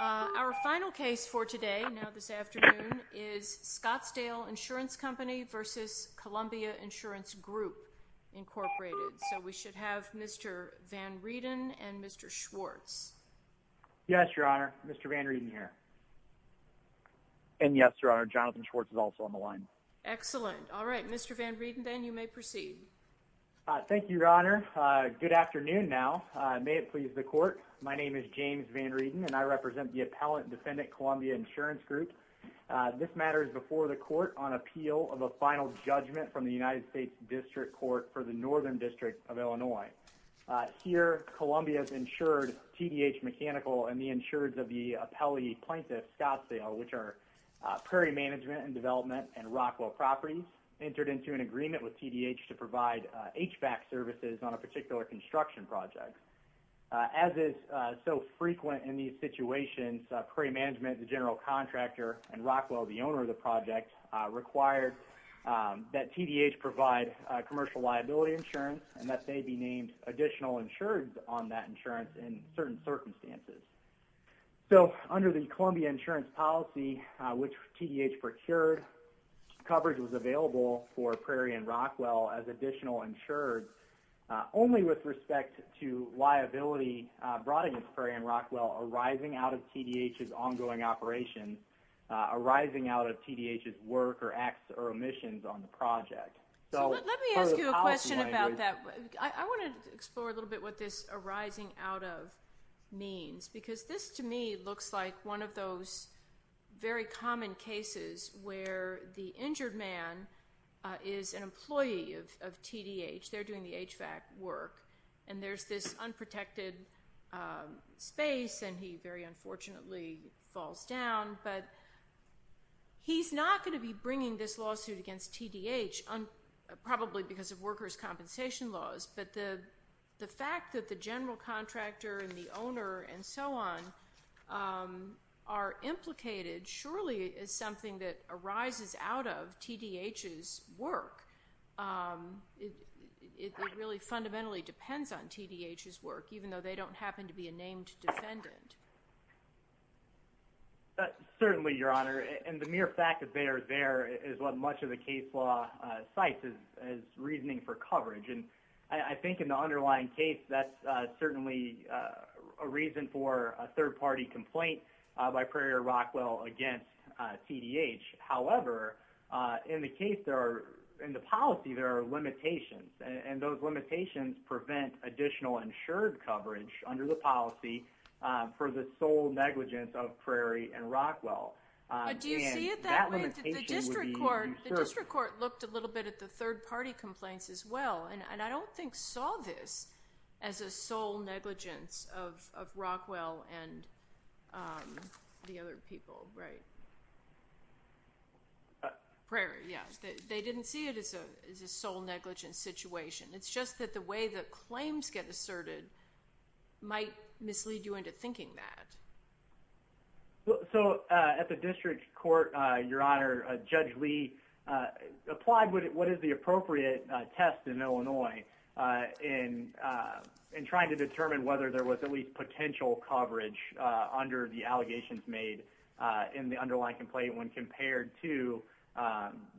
Our final case for today, now this afternoon, is Scottsdale Insurance Company v. Columbia Insurance Group, Inc. So we should have Mr. Van Rieden and Mr. Schwartz. Yes, Your Honor. Mr. Van Rieden here. And yes, Your Honor. Jonathan Schwartz is also on the line. Excellent. All right. Mr. Van Rieden, then you may proceed. Thank you, Your Honor. Good afternoon now. May it please the Court. My name is James Van Rieden, and I represent the Appellant Defendant Columbia Insurance Group. This matter is before the Court on appeal of a final judgment from the United States District Court for the Northern District of Illinois. Here, Columbia has insured TDH Mechanical and the insureds of the appellee plaintiff, Scottsdale, which are Prairie Management and Development and Rockwell Properties, entered into an agreement with TDH to provide HVAC services on a particular construction project. As is so frequent in these situations, Prairie Management, the general contractor, and Rockwell, the owner of the project, required that TDH provide commercial liability insurance and that they be named additional insureds on that insurance in certain circumstances. So under the Columbia insurance policy, which TDH procured, coverage was available for Prairie and to liability brought against Prairie and Rockwell arising out of TDH's ongoing operation, arising out of TDH's work or acts or omissions on the project. So let me ask you a question about that. I want to explore a little bit what this arising out of means, because this, to me, looks like one of those very common cases where the injured man is an employee of TDH, they're doing the HVAC work, and there's this unprotected space and he very unfortunately falls down, but he's not going to be bringing this lawsuit against TDH, probably because of workers' compensation laws, but the fact that the general contractor and the owner and so on are implicated surely is something that arises out of TDH's work. It really fundamentally depends on TDH's work, even though they don't happen to be a named defendant. Certainly, Your Honor, and the mere fact that they are there is what much of the case law cites as reasoning for coverage. I think in the underlying case, that's certainly a reason for a third-party complaint by Prairie and Rockwell against TDH. However, in the case, in the policy, there are limitations, and those limitations prevent additional insured coverage under the policy for the sole negligence of Prairie and Rockwell. Do you see it that way? The district court looked a little bit at the third-party complaints as well, and I don't think saw this as a sole negligence of Rockwell and the other people, right? Prairie, yes. They didn't see it as a sole negligence situation. It's just that the way claims get asserted might mislead you into thinking that. At the district court, Your Honor, Judge Lee applied what is the appropriate test in Illinois in trying to determine whether there was at least potential coverage under the allegations made in the underlying complaint when compared to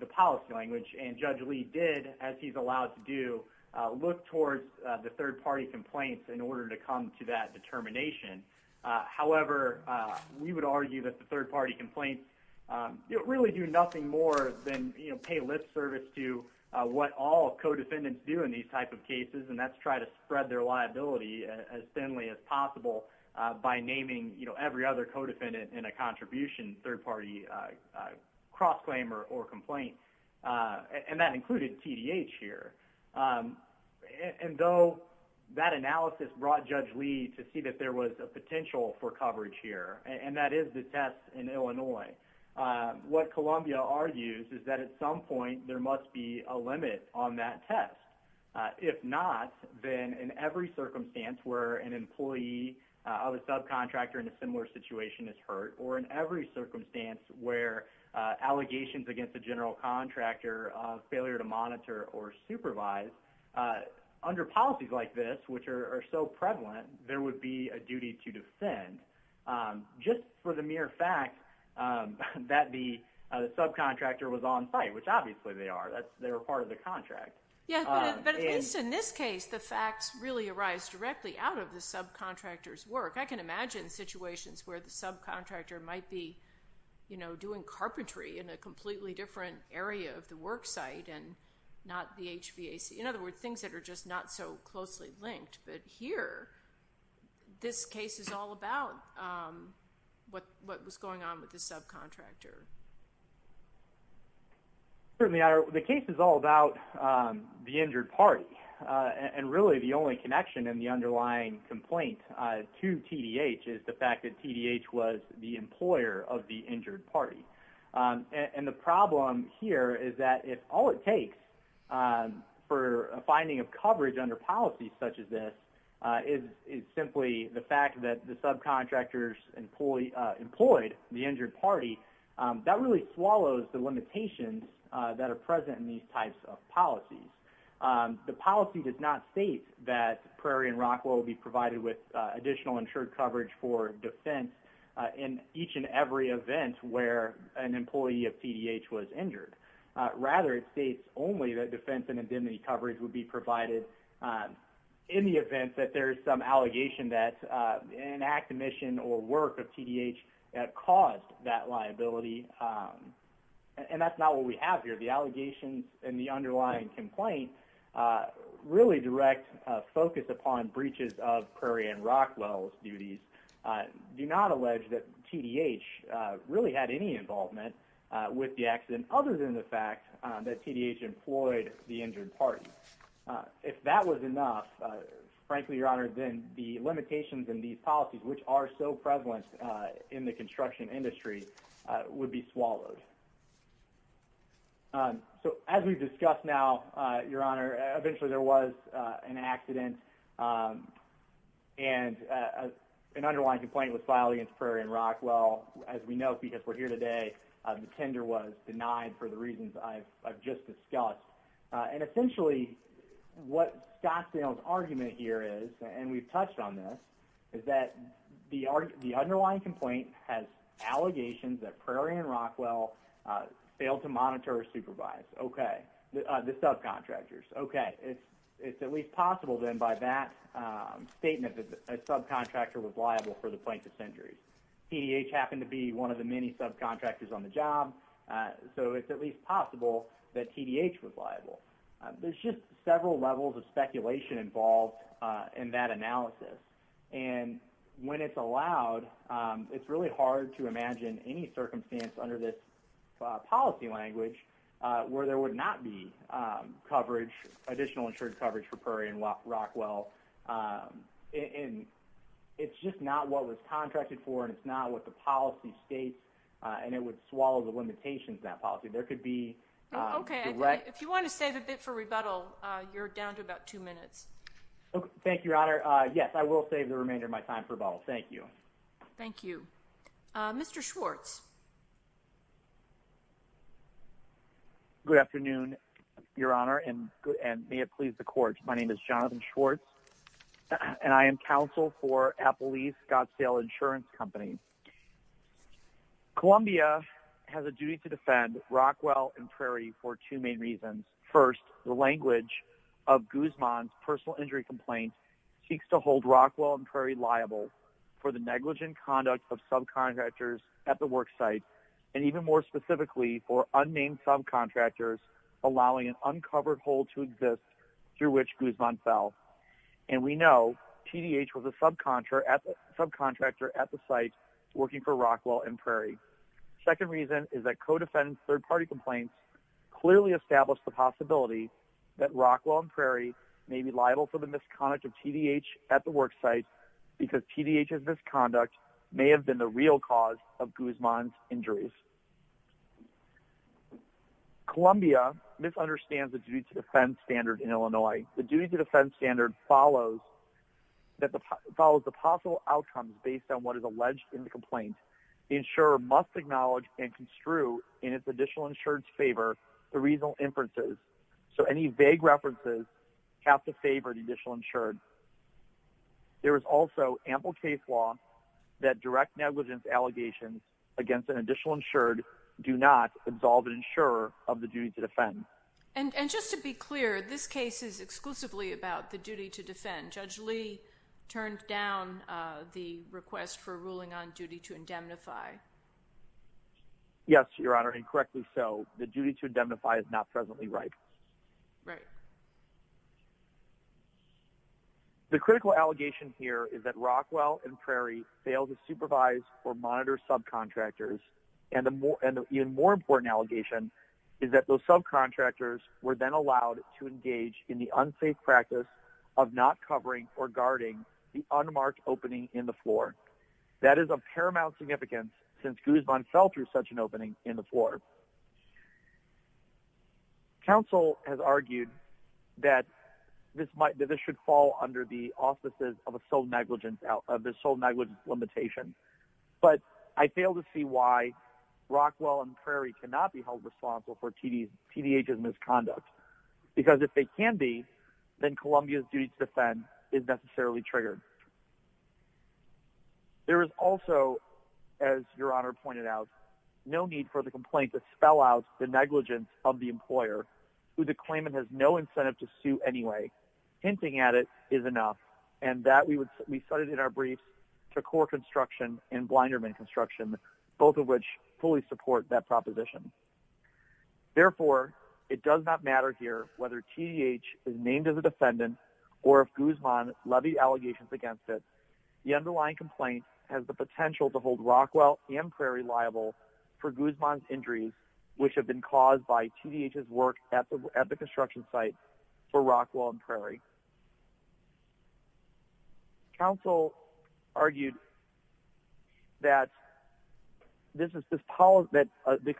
the policy language. Judge Lee did, as he's allowed to do, look towards the third-party complaints in order to come to that determination. However, we would argue that the third-party complaints really do nothing more than pay lip service to what all co-defendants do in these types of cases, and that's try to spread their liability as thinly as possible by naming every other co-defendant in a contribution third-party cross-claim or complaint, and that included TDH here. And though that analysis brought Judge Lee to see that there was a potential for coverage here, and that is the test in Illinois, what Columbia argues is that at some point there must be a limit on that test. If not, then in every circumstance where an employee of a subcontractor in a similar situation is hurt, or in every circumstance where allegations against a general contractor of failure to monitor or supervise, under policies like this, which are so prevalent, there would be a duty to defend just for the mere fact that the subcontractor was on site, which obviously they are. They were part of the contract. Yeah, but at least in this case, the facts really arise directly out of the subcontractor's work. I can imagine situations where the subcontractor might be, you know, doing carpentry in a completely different area of the work site and not the HVAC. In other words, things that are just not so closely linked, but here, this case is all about what was going on with the subcontractor. Certainly, the case is all about the injured party, and really the only connection in the TDH is the fact that TDH was the employer of the injured party. And the problem here is that if all it takes for a finding of coverage under policies such as this is simply the fact that the subcontractors employed the injured party, that really swallows the limitations that are present in these types of policies. The policy does not state that Prairie and Rockwell will be provided with additional insured coverage for defense in each and every event where an employee of TDH was injured. Rather, it states only that defense and indemnity coverage would be provided in the event that there is some allegation that an act, mission, or work of TDH caused that liability, and that's not what we have here. The allegations and the underlying complaint really direct focus upon breaches of Prairie and Rockwell's duties do not allege that TDH really had any involvement with the accident, other than the fact that TDH employed the injured party. If that was enough, frankly, your honor, then the limitations in these policies, which are so prevalent in the construction industry, would be swallowed. So as we've discussed now, your honor, eventually there was an accident and an underlying complaint was filed against Prairie and Rockwell. As we know, because we're here today, the tender was denied for the reasons I've just discussed. And essentially, what Scottsdale's argument here is, and we've touched on this, is that the underlying complaint has allegations that Prairie and Rockwell failed to monitor or supervise the subcontractors. Okay, it's at least possible then by that statement that a subcontractor was liable for the plaintiff's injuries. TDH happened to be one of the many subcontractors on the job, so it's at least possible that TDH was liable. There's just several levels of speculation involved in that analysis, and when it's allowed, it's really hard to imagine any circumstance under this policy language where there would not be additional insured coverage for Prairie and Rockwell. It's just not what was contracted for, and it's not what the policy states, and it would swallow the limitations of that policy. There could be... Okay, if you want to save a bit for rebuttal, you're down to about two minutes. Thank you, your honor. Yes, I will save the remainder of my time for rebuttal. Thank you. Thank you. Mr. Schwartz. Good afternoon, your honor, and may it please the court. My name is Jonathan Schwartz, and I am counsel for Apple Leaf Scottsdale Insurance Company. Columbia has a duty to defend Rockwell and Prairie for two main reasons. First, the language of Guzman's personal injury complaint seeks to hold Rockwell and Prairie liable for the negligent conduct of subcontractors at the worksite, and even more specifically, for unnamed subcontractors allowing an uncovered hole to exist through which Guzman fell. And we know TDH was a subcontractor at the site working for Rockwell and Prairie. Second reason is that co-defendants' third-party complaints clearly establish the possibility that Rockwell and Prairie's misconduct may have been the real cause of Guzman's injuries. Columbia misunderstands the duty to defend standard in Illinois. The duty to defend standard follows the possible outcomes based on what is alleged in the complaint. The insurer must acknowledge and construe in its additional insurance favor the reasonable inferences, so any vague references have to favor the additional insured. There is also ample case law that direct negligence allegations against an additional insured do not absolve an insurer of the duty to defend. And just to be clear, this case is exclusively about the duty to defend. Judge Lee turned down the request for a ruling on duty to indemnify. Yes, Your Honor, and correctly so. The duty to indemnify is not presently ripe. The critical allegation here is that Rockwell and Prairie failed to supervise or monitor subcontractors. And an even more important allegation is that those subcontractors were then allowed to engage in the unsafe practice of not covering or guarding the unmarked opening in the floor. That is of paramount significance since Guzman fell through such an opening in the floor. Counsel has argued that this should fall under the auspices of the sole negligence limitation. But I fail to see why Rockwell and Prairie cannot be held responsible for TDH's misconduct. Because if they can be, then Columbia's duty to defend is necessarily triggered. There is also, as Your Honor pointed out, no need for the complaint to spell out the negligence of the employer, who the claimant has no incentive to sue anyway. Hinting at it is enough. And that we would we started in our briefs to core construction and blinderman construction, both of which fully support that proposition. Therefore, it does not matter here whether TDH is named as a defendant or if Guzman levied allegations against it. The underlying complaint has the potential to hold Rockwell and Prairie liable for Guzman's injuries, which have been caused by TDH's work at the construction site for Rockwell and Prairie. Counsel argued that the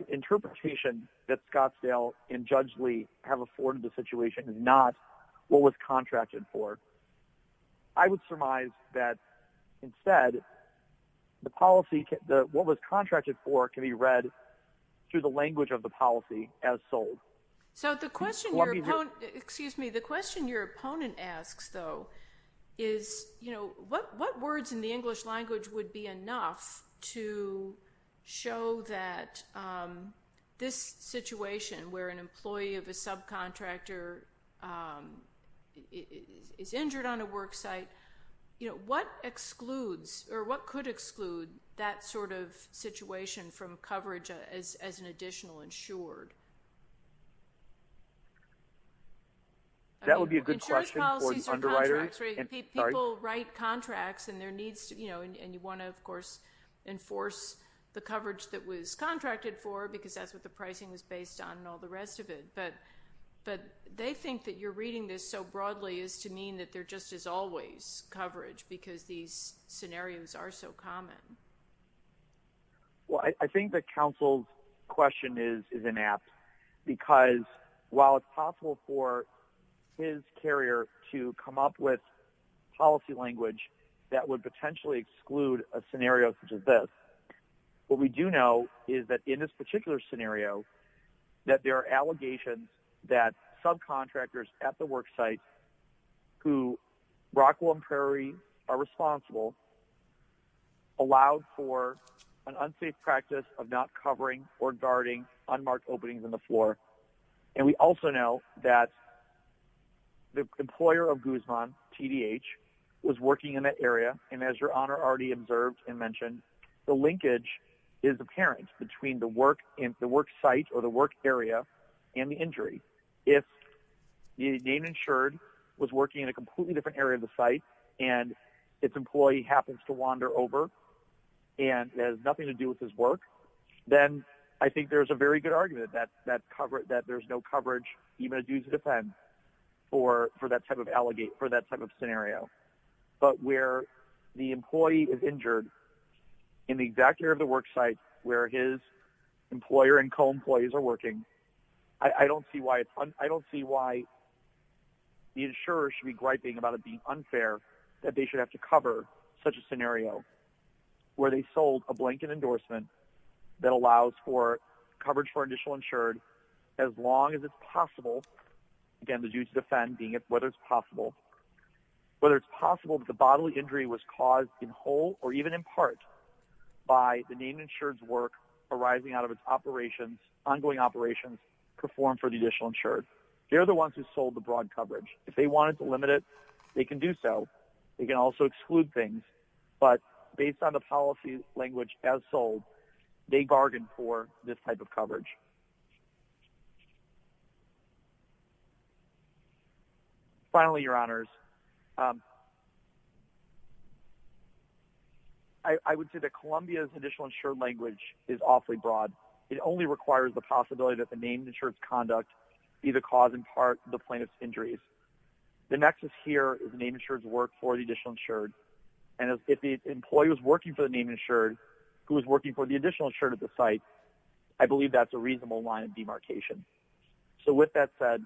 interpretation that Scottsdale and Judge Lee have afforded the contract, I would surmise that instead, what was contracted for can be read through the language of the policy as sold. So the question your opponent asks, though, is what words in the English language would be enough to show that this situation where an employee is injured on a work site, you know, what excludes or what could exclude that sort of situation from coverage as an additional insured? That would be a good question for an underwriter. People write contracts and there needs to, you know, and you want to, of course, enforce the coverage that was contracted for because that's what the pricing is based on and all the rest of it. But they think that you're reading this so broadly is to mean that there just is always coverage because these scenarios are so common. Well, I think the counsel's question is inept because while it's possible for his carrier to come up with policy language that would potentially exclude a scenario such as this, what we do know is that in this particular scenario that there are allegations that subcontractors at the work site who Rockwell and Prairie are responsible allowed for an unsafe practice of not covering or guarding unmarked openings in the floor. And we also know that the employer of Guzman, TDH, was working in that area. And as your is apparent between the work site or the work area and the injury, if the name insured was working in a completely different area of the site and its employee happens to wander over and it has nothing to do with his work, then I think there's a very good argument that there's no coverage, even a due to defend for that type of allegation, for that type of scenario. But where the employee is injured in the exact area of the work site where his employer and co-employees are working, I don't see why the insurer should be griping about it being unfair that they should have to cover such a scenario where they sold a blanket endorsement that allows coverage for initial insured as long as it's possible, again, the due to defend being whether it's possible. Whether it's possible that the bodily injury was caused in whole or even in part by the name insured's work arising out of its ongoing operations performed for the initial insured. They're the ones who sold the broad coverage. If they wanted to limit it, they can do so. They can also exclude things. But based on the policy language as sold, they bargained for this type of coverage. Finally, your honors, I would say that Columbia's initial insured language is awfully broad. It only requires the possibility that the name insured's conduct either cause in part the plaintiff's injuries. The nexus here is the name insured's work for the initial insured. And if the employee was working for the name insured who was working for the additional insured at the site, I believe that's a reasonable line of demarcation. So with that said,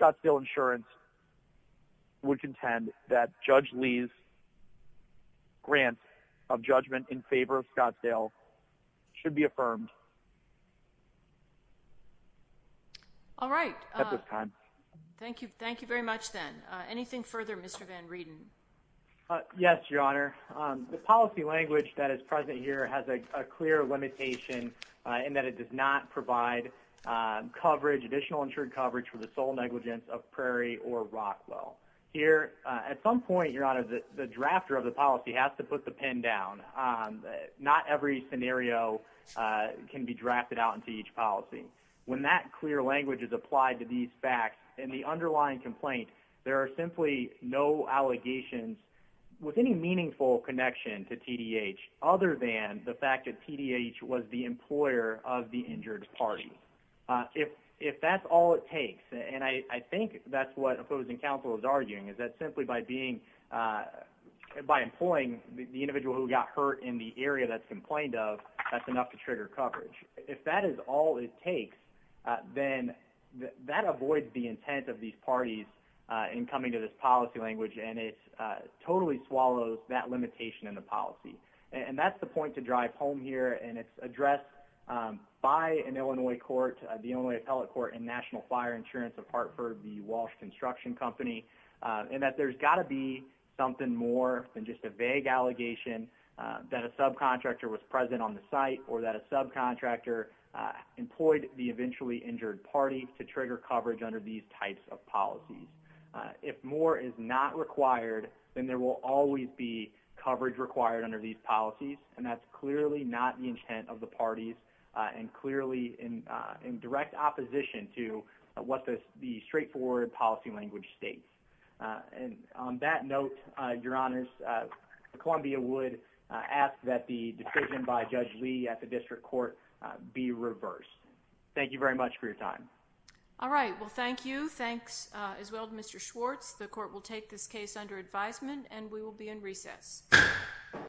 Scottsdale insurance would contend that Judge Lee's grant of judgment in favor of Scottsdale should be affirmed. All right. At this time. Thank you. Thank you very much then. Anything further, Mr. Van Reden? Yes, your honor. The policy language that is present here has a clear limitation in that it does not provide additional insured coverage for the sole negligence of Prairie or Rockwell. At some point, your honor, the drafter of the policy has to put the pin down. Not every scenario can be drafted out into each policy. When that clear language is applied to these facts and the underlying complaint, there are simply no allegations with any meaningful connection to TDH other than the fact that TDH was the employer of the injured party. If that's all it takes, and I think that's what opposing counsel is arguing, is that simply by employing the individual who got hurt in the area that's complained of, that's enough to trigger coverage. If that is all it takes, then that avoids the intent of these parties in coming to this policy language, and it totally swallows that limitation in the policy. And that's the point to drive home here, and it's addressed by an Illinois court, the Illinois Appellate Court and National Fire Insurance, apart for the Walsh Construction Company, and that there's got to be something more than just a vague allegation that a subcontractor was present on the site or that a subcontractor employed the eventually injured party to trigger coverage under these types of policies. If more is not required, then there will always be coverage required under these policies, and that's clearly not the intent of the parties and clearly in direct opposition to what the straightforward policy language states. And on that note, Your Honors, Columbia would ask that the decision by Judge Lee at the District Court be reversed. Thank you very much for your time. All right, well thank you. Thanks as well to Mr. Schwartz. The court will take this case under advisement, and we will be in recess.